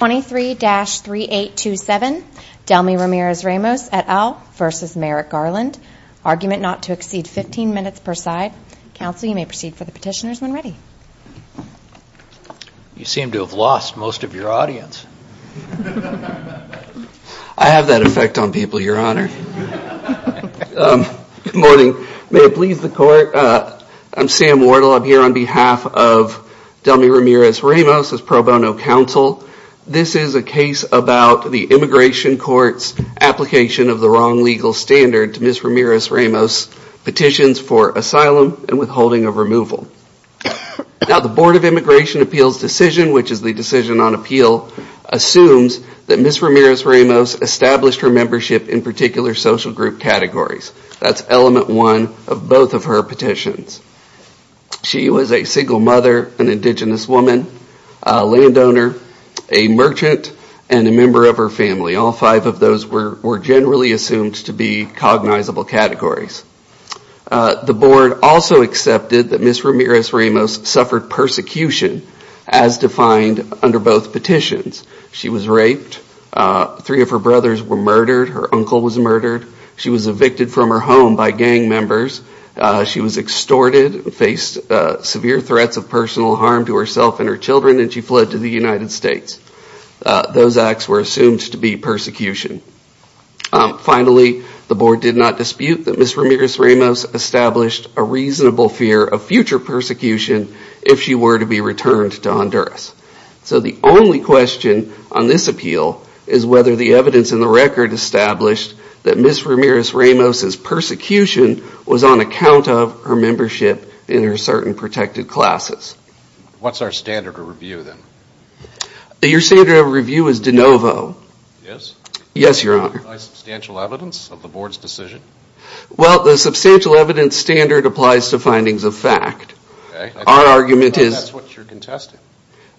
23-3827 Delmi RamirezRamos et al v. Merrick Garland argument not to exceed 15 minutes per side council you may proceed for the petitioners when ready you seem to have lost most of your audience i have that effect on people your honor um good morning may it please the court uh i'm sam wardle i'm here on behalf of Delmi RamirezRamos as pro bono counsel this is a case about the immigration court's application of the wrong legal standard to miss RamirezRamos petitions for asylum and withholding of removal now the board of immigration appeals decision which is the decision on appeal assumes that miss RamirezRamos established her membership in particular social group categories that's element one of both of her petitions she was a single mother an indigenous woman a landowner a merchant and a member of her family all five of those were were generally assumed to be cognizable categories the board also accepted that miss RamirezRamos suffered persecution as defined under both petitions she was raped three of her brothers were murdered her uncle was murdered she was evicted from her home by gang members she was extorted faced severe threats of personal harm to herself and her children and she fled to the united states those acts were assumed to be persecution finally the board did not dispute that miss RamirezRamos established a reasonable fear of future persecution if she were to be returned to Honduras so the only question on this appeal is whether the evidence in the record established that miss RamirezRamos's persecution was on account of her membership in her certain protected classes what's our standard of review then your standard of review is de novo yes yes your honor substantial evidence of the board's decision well the substantial evidence standard applies to findings of fact our argument is that's what you're contesting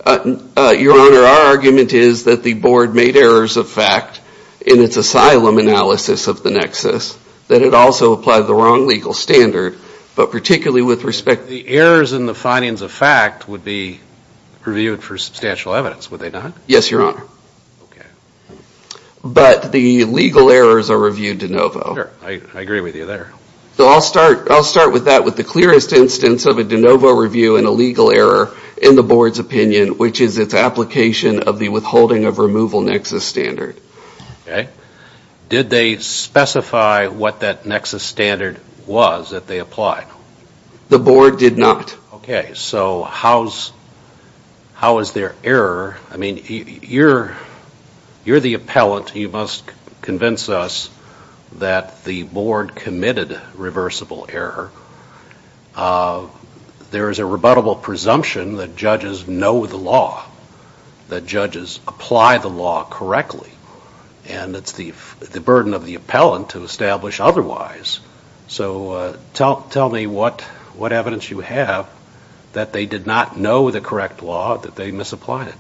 your honor our argument is that the board made errors of fact in its asylum analysis of the nexus that it also applied the wrong legal standard but particularly with respect the errors in the findings of fact would be reviewed for substantial evidence would they not yes your honor okay but the legal errors are reviewed de novo i agree with you there so i'll start i'll start with that with the clearest instance of a de novo review and a legal error in the board's opinion which is its application of the withholding of nexus standard okay did they specify what that nexus standard was that they applied the board did not okay so how's how is their error i mean you're you're the appellant you must convince us that the board committed reversible error there is a rebuttable presumption that judges know the law that judges apply the law correctly and it's the the burden of the appellant to establish otherwise so tell tell me what what evidence you have that they did not know the correct law that they misapplied it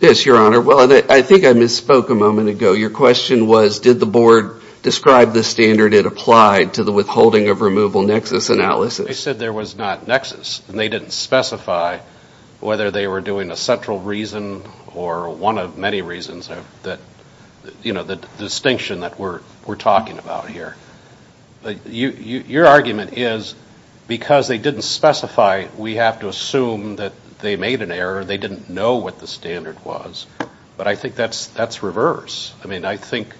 yes your honor well i think i misspoke a moment ago your question was did the board describe the standard it applied to the withholding of removal nexus analysis they said there was not nexus and they didn't specify whether they were doing a central reason or one of many reasons that you know the distinction that we're we're talking about here but you you your argument is because they didn't specify we have to assume that they made an error they didn't know what the standard was but i think that's that's reverse i mean i think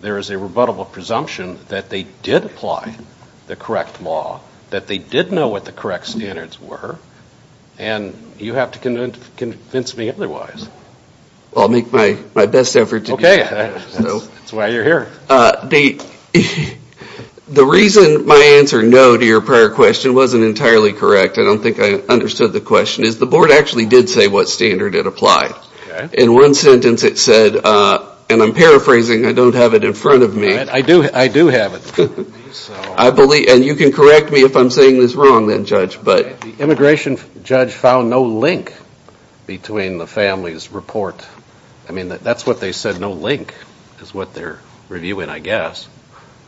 there is a rebuttable presumption that they did apply the correct law that they did know what the correct standards were and you have to convince me otherwise i'll make my my best effort okay that's why you're here the reason my answer no to your prior question wasn't entirely correct i don't think i understood the question is the board actually did say what standard it applied in one sentence it said uh and i'm paraphrasing i don't have it in front of me i do i do have it i believe and you can correct me if i'm saying this wrong then but the immigration judge found no link between the family's report i mean that that's what they said no link is what they're reviewing i guess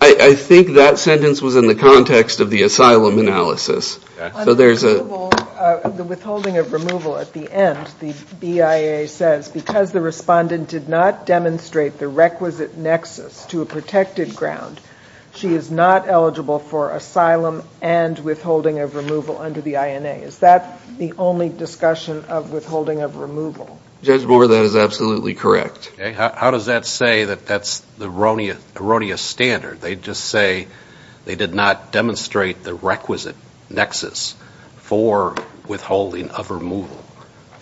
i i think that sentence was in the context of the asylum analysis so there's a the withholding of removal at the end the bia says because the respondent did not demonstrate the requisite nexus to a protected ground she is not eligible for asylum and withholding of removal under the ina is that the only discussion of withholding of removal judge bore that is absolutely correct how does that say that that's the erroneous erroneous standard they just say they did not demonstrate the requisite nexus for withholding of removal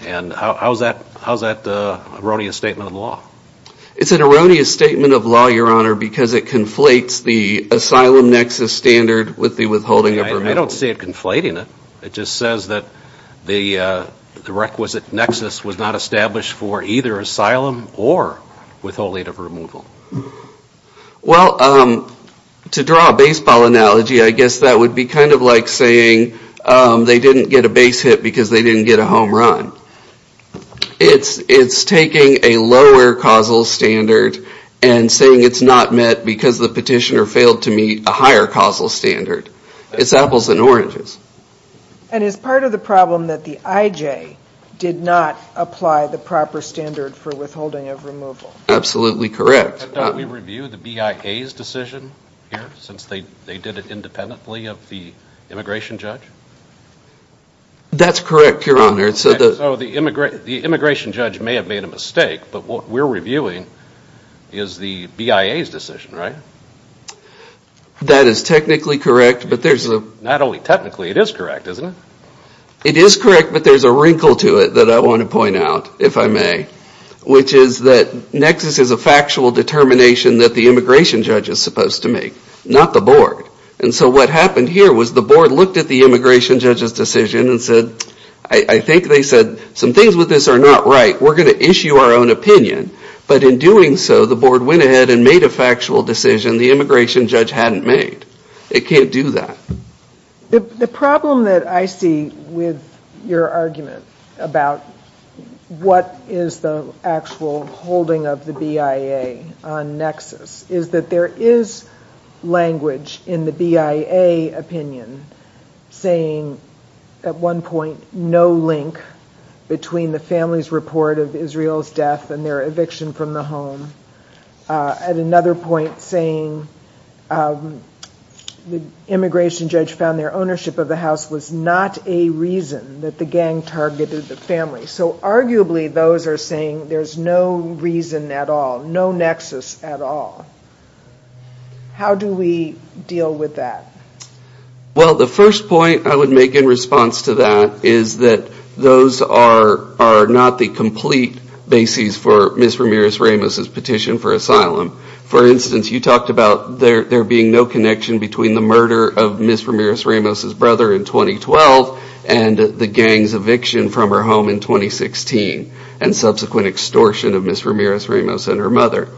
and how's that how's that uh erroneous statement of law it's an erroneous statement of law your honor because it conflates the asylum nexus standard with the withholding i don't see it conflating it it just says that the uh the requisite nexus was not established for either asylum or withholding of removal well um to draw a baseball analogy i guess that would be kind of like saying they didn't get a base hit because they didn't get a home run it's it's taking a lower causal standard and saying it's not met because the petitioner meets a higher causal standard it's apples and oranges and is part of the problem that the ij did not apply the proper standard for withholding of removal absolutely correct but don't we review the bia's decision here since they they did it independently of the immigration judge that's correct your honor so the so the immigrant the immigration judge may have made a mistake but what we're reviewing is the bia's decision right that is technically correct but there's a not only technically it is correct isn't it it is correct but there's a wrinkle to it that i want to point out if i may which is that nexus is a factual determination that the immigration judge is supposed to make not the board and so what happened here was the board looked at the immigration judge's decision and said i i think they said some things with this are not right we're going to issue our own opinion but in doing so the board went ahead and made a factual decision the immigration judge hadn't made it can't do that the the problem that i see with your argument about what is the actual holding of the bia on nexus is that there is language in the bia opinion saying at one point no link between the family's report of israel's death and their eviction from the home at another point saying the immigration judge found their ownership of the house was not a reason that the gang targeted the family so arguably those are saying there's no reason at all no nexus at all how do we deal with that well the first point i would make in response to that is that those are are not the complete bases for miss ramirez ramos's petition for asylum for instance you talked about there there being no connection between the murder of miss ramirez ramos's brother in 2012 and the gang's eviction from her home in 2016 and subsequent extortion of miss ramirez ramos and her mother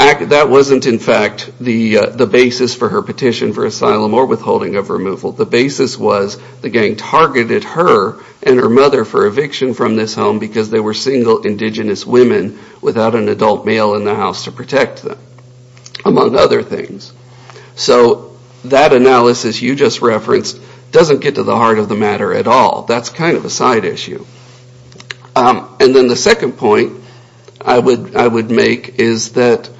that wasn't in fact the the basis for her petition for asylum or withholding of removal the basis was the gang targeted her and her mother for eviction from this home because they were single indigenous women without an adult male in the house to protect them among other things so that analysis you just referenced doesn't get to the heart of the matter at all that's kind of a side issue and then the second point i would i would make is that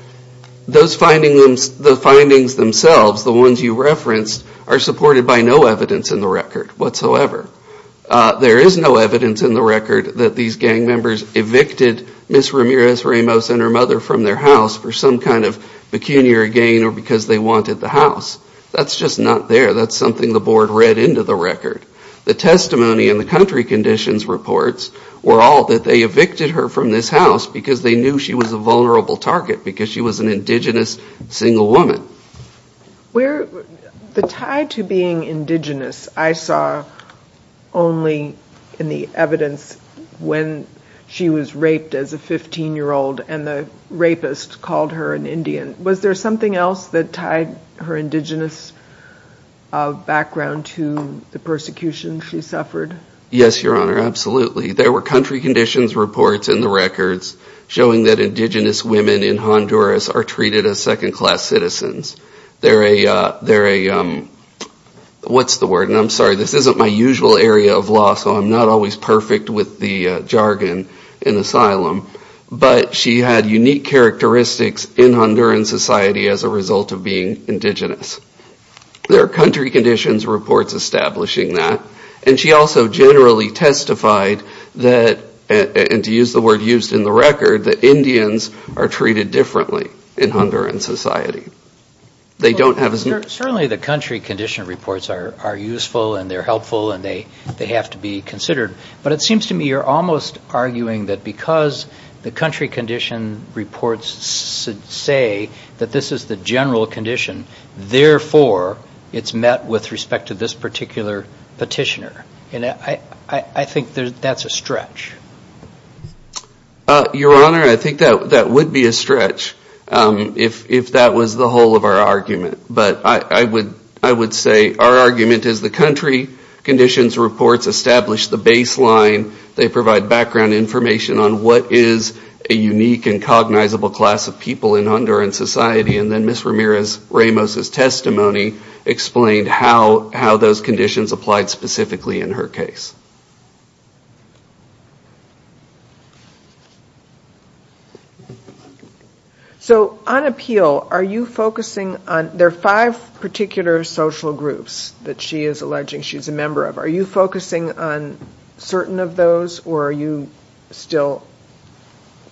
those findings the findings themselves the ones you referenced are supported by no evidence in the record whatsoever there is no evidence in the record that these gang members evicted miss ramirez ramos and her mother from their house for some kind of pecuniary gain or because they wanted the house that's just not there that's something the board read into the record the testimony and the country conditions reports were all that they evicted her from this house because they knew she was a vulnerable target because she was an indigenous single woman where the tie to being indigenous i saw only in the evidence when she was raped as a 15 year old and the rapist called her an indian was there something else that tied her indigenous background to the persecution she suffered yes your honor absolutely there were country conditions reports in the records showing that indigenous women in honduras are treated as second class citizens they're a they're a um what's the word and i'm sorry this isn't my usual area of law so i'm not always perfect with the jargon in asylum but she had unique characteristics in honduran society as a result of being indigenous there are country conditions reports establishing that and she also generally testified that and to use the word used in the record that indians are treated differently in honduran society they don't have certainly the country condition reports are are useful and they're helpful and they they have to be considered but it seems to me you're almost arguing that because the country condition reports say that this is the general condition therefore it's met with respect to this particular petitioner and i i i think that's a stretch uh your honor i think that that would be a stretch um if if that was the whole of our argument but i i would i would say our argument is the country conditions reports establish the baseline they provide background information on what is a unique and cognizable class of people in honduran society and then miss ramirez ramos's testimony explained how how those conditions applied specifically in her case so on appeal are you focusing on there are five particular social groups that she is alleging she's a member of are you focusing on certain of those or are you still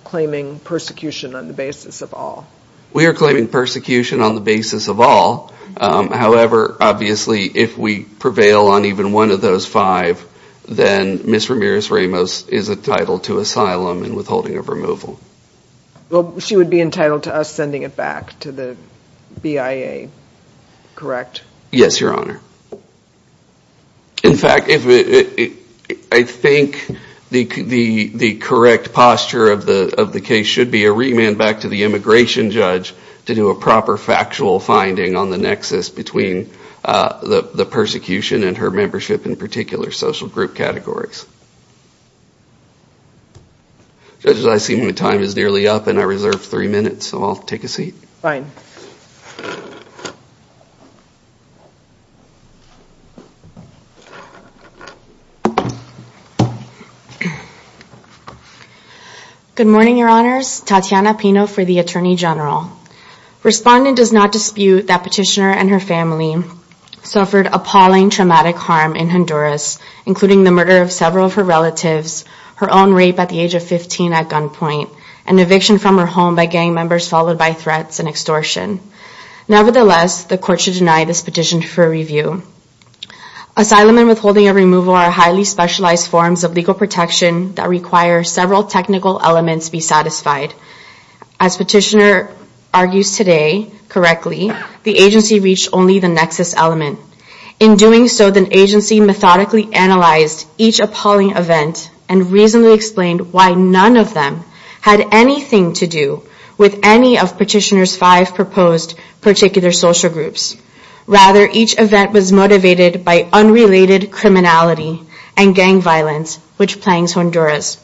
claiming persecution on the basis of all we are claiming persecution on the basis of all um however obviously if we prevail on even one of those five then miss ramirez ramos is entitled to asylum and withholding of removal well she would be entitled to us sending it back to the bia correct yes your honor in fact if i think the the the correct posture of the of the case should be a remand back to the immigration judge to do a proper factual finding on the nexus between uh the the persecution and her membership in particular social group categories judges i see my time is nearly up and i reserved three minutes so i'll take a seat fine good morning your honors tatiana pino for the attorney general respondent does not dispute that petitioner and her family suffered appalling traumatic harm in honduras including the murder of several of her relatives her own rape at the age of 15 at gunpoint an eviction from her home by gang members followed by threats and extortion nevertheless the court should deny this petition for review asylum and withholding a removal are highly specialized forms of legal protection that require several technical elements be satisfied as petitioner argues today correctly the agency reached only the nexus element in doing so the agency methodically analyzed each appalling event and reasonably explained why none of them had anything to do with any petitioner's five proposed particular social groups rather each event was motivated by unrelated criminality and gang violence which plagues honduras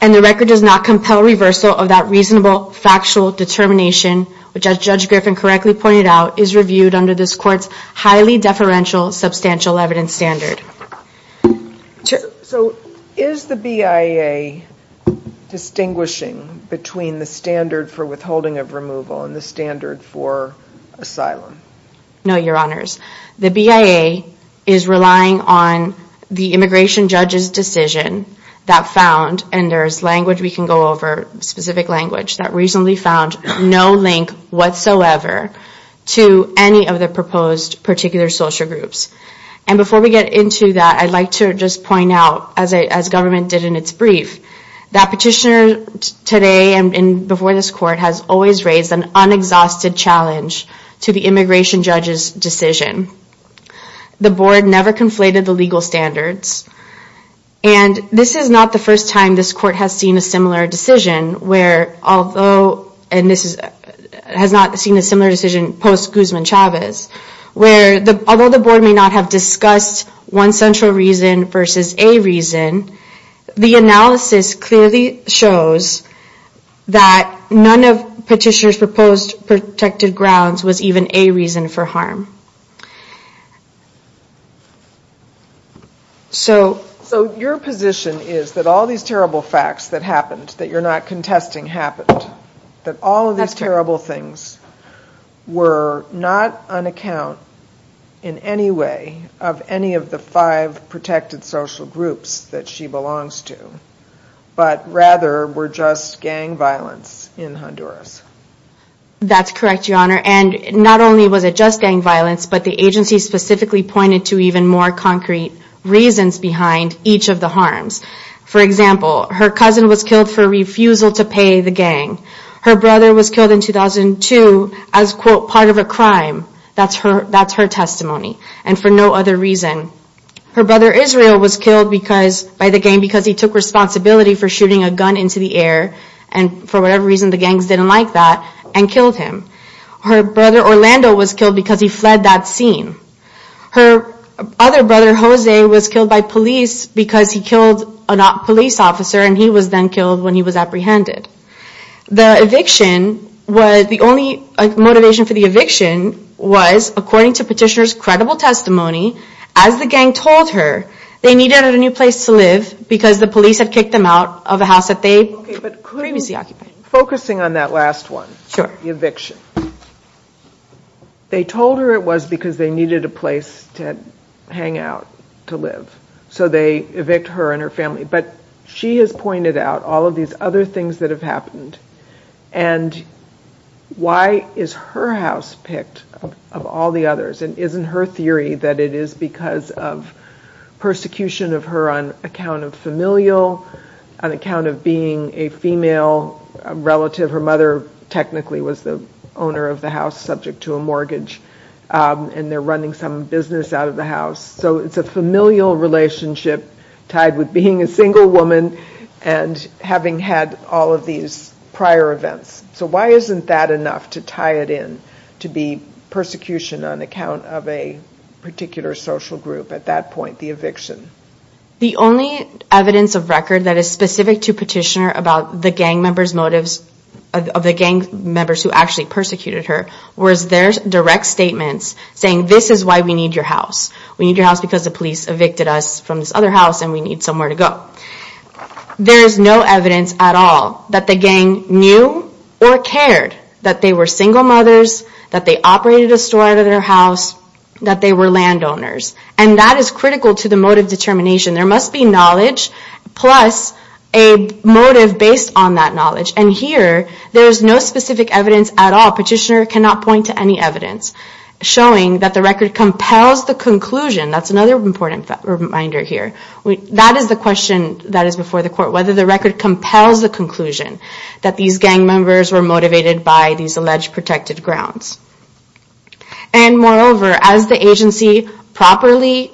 and the record does not compel reversal of that reasonable factual determination which as judge griffin correctly pointed out is reviewed under this court's highly deferential substantial evidence standard so is the bia distinguishing between the standard for withholding of removal and the standard for asylum no your honors the bia is relying on the immigration judge's decision that found and there's language we can go over specific language that reasonably found no link whatsoever to any of the proposed particular social groups and before we get into that i'd like to just point out as a as government did in its brief that petitioner today and before this court has always raised an unexhausted challenge to the immigration judge's decision the board never conflated the legal standards and this is not the first time this court has seen a similar decision where although and this is has not seen a similar decision post guzman chavez where the although the board may not have discussed one central reason versus a reason the analysis clearly shows that none of petitioners proposed protected grounds was even a reason for harm so so your position is that all these terrible facts that happened that you're not contesting happened that all of these terrible things were not on account in any way of any of the five protected social groups that she belongs to but rather were just gang violence in honduras that's correct your honor and not only was it just gang violence but the agency specifically pointed to even more concrete reasons behind each of the harms for example her cousin was killed for refusal to pay the gang her brother was killed in 2002 as quote part of a crime that's her that's her testimony and for no other reason her brother israel was killed because by the game because he took responsibility for shooting a gun into the air and for whatever the gangs didn't like that and killed him her brother orlando was killed because he fled that scene her other brother jose was killed by police because he killed a police officer and he was then killed when he was apprehended the eviction was the only motivation for the eviction was according to petitioners credible testimony as the gang told her they needed a new place to live because the police had kicked them out of a house that they previously occupied focusing on that last one sure the eviction they told her it was because they needed a place to hang out to live so they evict her and her family but she has pointed out all of these other things that have happened and why is her house picked of all the others and isn't her theory that it is because of persecution of her on account of familial on account of being a female relative her mother technically was the owner of the house subject to a mortgage and they're running some business out of the house so it's a familial relationship tied with being a single woman and having had all of these prior events so why isn't that enough to tie it in to be persecution on account of a social group at that point the eviction the only evidence of record that is specific to petitioner about the gang members motives of the gang members who actually persecuted her was their direct statements saying this is why we need your house we need your house because the police evicted us from this other house and we need somewhere to go there is no evidence at all that the gang knew or cared that they were single mothers that they operated a store out of their house that they were landowners and that is critical to the motive determination there must be knowledge plus a motive based on that knowledge and here there's no specific evidence at all petitioner cannot point to any evidence showing that the record compels the conclusion that's another important reminder here we that is the question that is before the court whether the record compels the conclusion that these gang members were motivated by these alleged protected grounds and moreover as the agency properly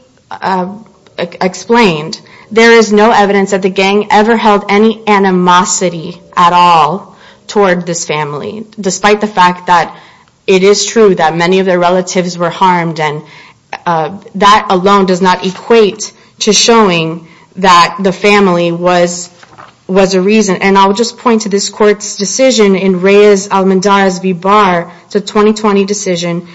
explained there is no evidence that the gang ever held any animosity at all toward this family despite the fact that it is true that many of their relatives were harmed and that alone does not equate to showing that the family was was a and I'll just point to this court's decision in Reyes-Almendarez v. Barr it's a 2020 decision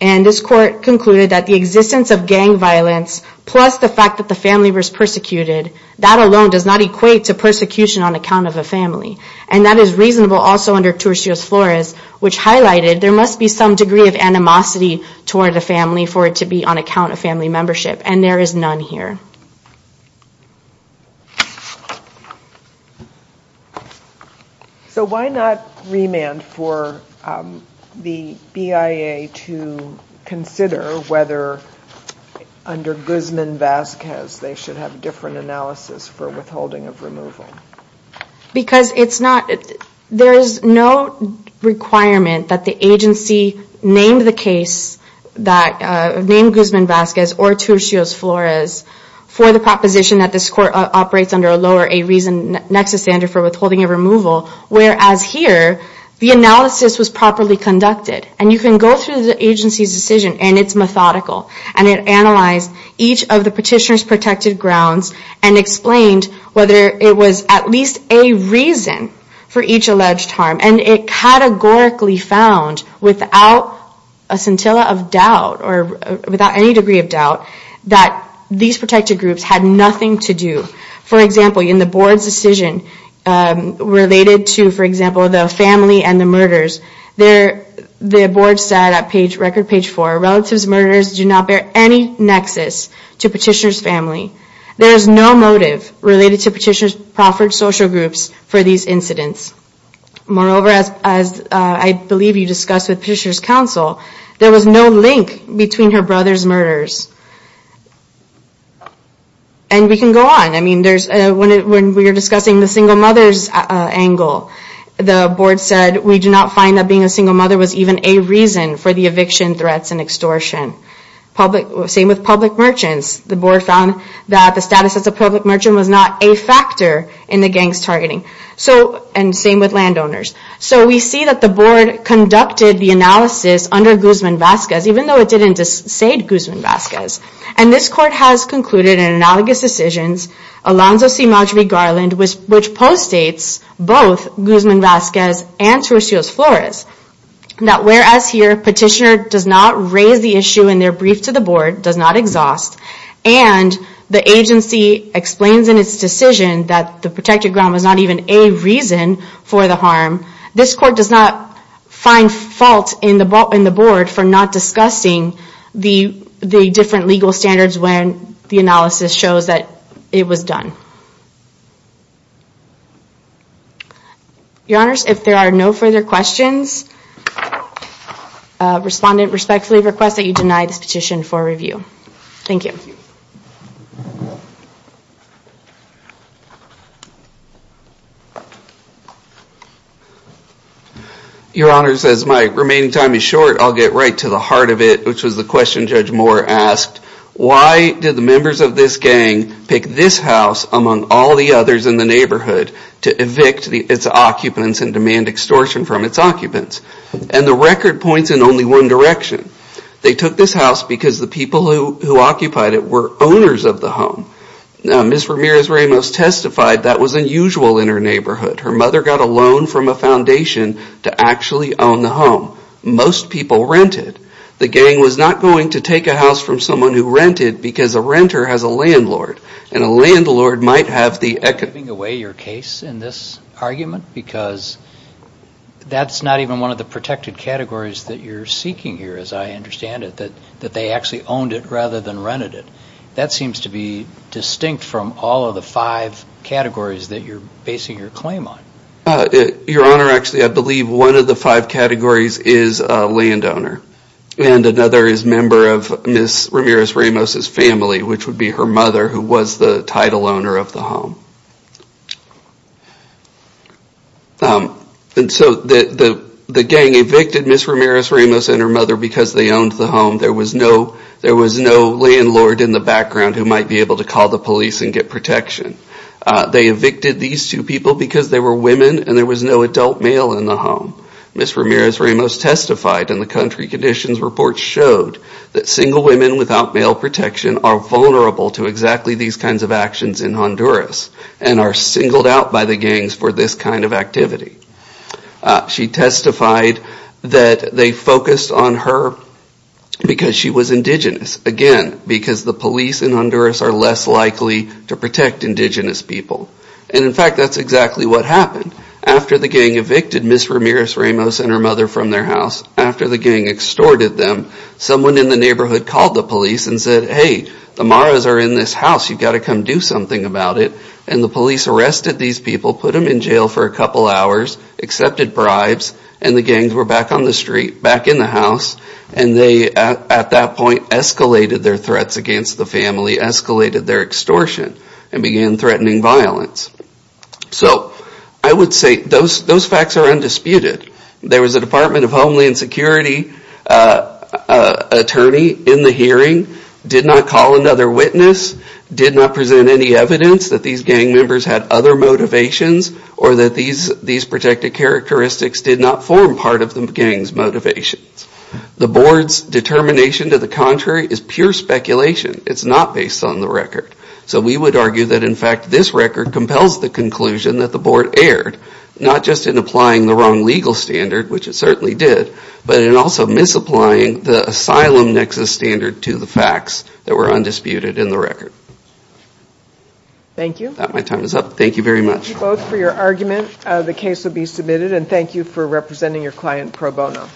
and this court concluded that the existence of gang violence plus the fact that the family was persecuted that alone does not equate to persecution on account of a family and that is reasonable also under Turcio's Flores which highlighted there must be some degree of animosity toward the family for it to be on account of family membership and there is none here so why not remand for the BIA to consider whether under Guzman-Vasquez they should have different analysis for withholding of removal because it's not there is no requirement that the agency named the case that named Guzman-Vasquez or Turcio's Flores for the proposition that this for withholding a removal whereas here the analysis was properly conducted and you can go through the agency's decision and it's methodical and it analyzed each of the petitioner's protected grounds and explained whether it was at least a reason for each alleged harm and it categorically found without a scintilla of doubt or without any degree of doubt that these protected um related to for example the family and the murders there the board said at page record page four relatives murders do not bear any nexus to petitioner's family there is no motive related to petitioner's proffered social groups for these incidents moreover as as I believe you discussed with petitioner's counsel there was no link between her brother's murders and we can go on I mean there's a when we were discussing the single mother's angle the board said we do not find that being a single mother was even a reason for the eviction threats and extortion public same with public merchants the board found that the status as a public merchant was not a factor in the gangs targeting so and same with landowners so we see that the board conducted the analysis under Guzman-Vasquez even though it didn't dissuade Guzman-Vasquez and this court has concluded in analogous decisions Alonzo C. Marjorie Garland which postdates both Guzman-Vasquez and Turcios Flores that whereas here petitioner does not raise the issue in their brief to the board does not exhaust and the agency explains in its decision that the protected ground was not even a reason for the harm this court does not find fault in the ball board for not discussing the the different legal standards when the analysis shows that it was done your honors if there are no further questions respondent respectfully request that you deny this petition for review thank you your honors as my remaining time is short i'll get right to the heart of it which was the question judge moore asked why did the members of this gang pick this house among all the others in the neighborhood to evict the its occupants and demand extortion from its occupants and the record points in only one direction they took this house because the people who occupied it were owners of the home now miss ramirez ramos testified that was unusual in her neighborhood her mother got a loan from a foundation to actually own the home most people rented the gang was not going to take a house from someone who rented because a renter has a landlord and a landlord might have the echoing away your case in this argument because that's not even one of the protected categories that you're seeking here as i understand it that that they actually owned it rather than rented it that seems to be distinct from all of the five categories that you're basing your claim on your honor actually i believe one of the five categories is a landowner and another is member of miss ramirez ramos's family which would be her mother who was the title owner of the home um and so the the gang evicted miss ramirez ramos and her mother because they owned the home there was no there was no landlord in the background who might be able to call the police and get protection they evicted these two people because they were women and there was no adult male in the home miss ramirez ramos testified in the country conditions report showed that single women without male protection are vulnerable to exactly these kinds of actions in honduras and are singled out by the gangs for this kind of activity she testified that they focused on her because she was indigenous again because the police in honduras are less likely to protect indigenous people and in fact that's exactly what happened after the gang evicted miss ramirez ramos and her mother from their house after the gang extorted them someone in the neighborhood called the police and said hey the maras are in this house you've got to come do something about it and the police arrested these people put them in jail for a couple hours accepted bribes and the gangs were back on the street back in the house and they at that point escalated their threats against the family escalated their extortion and began threatening violence so i would say those those facts are undisputed there was a department of homeland security attorney in the hearing did not call another witness did not present any evidence that these members had other motivations or that these these protected characteristics did not form part of the gang's motivations the board's determination to the contrary is pure speculation it's not based on the record so we would argue that in fact this record compels the conclusion that the board erred not just in applying the wrong legal standard which it certainly did but in also misapplying the asylum nexus standard to the facts that were undisputed in the record thank you my time is up thank you very much both for your argument the case will be submitted and thank you for representing your client pro bono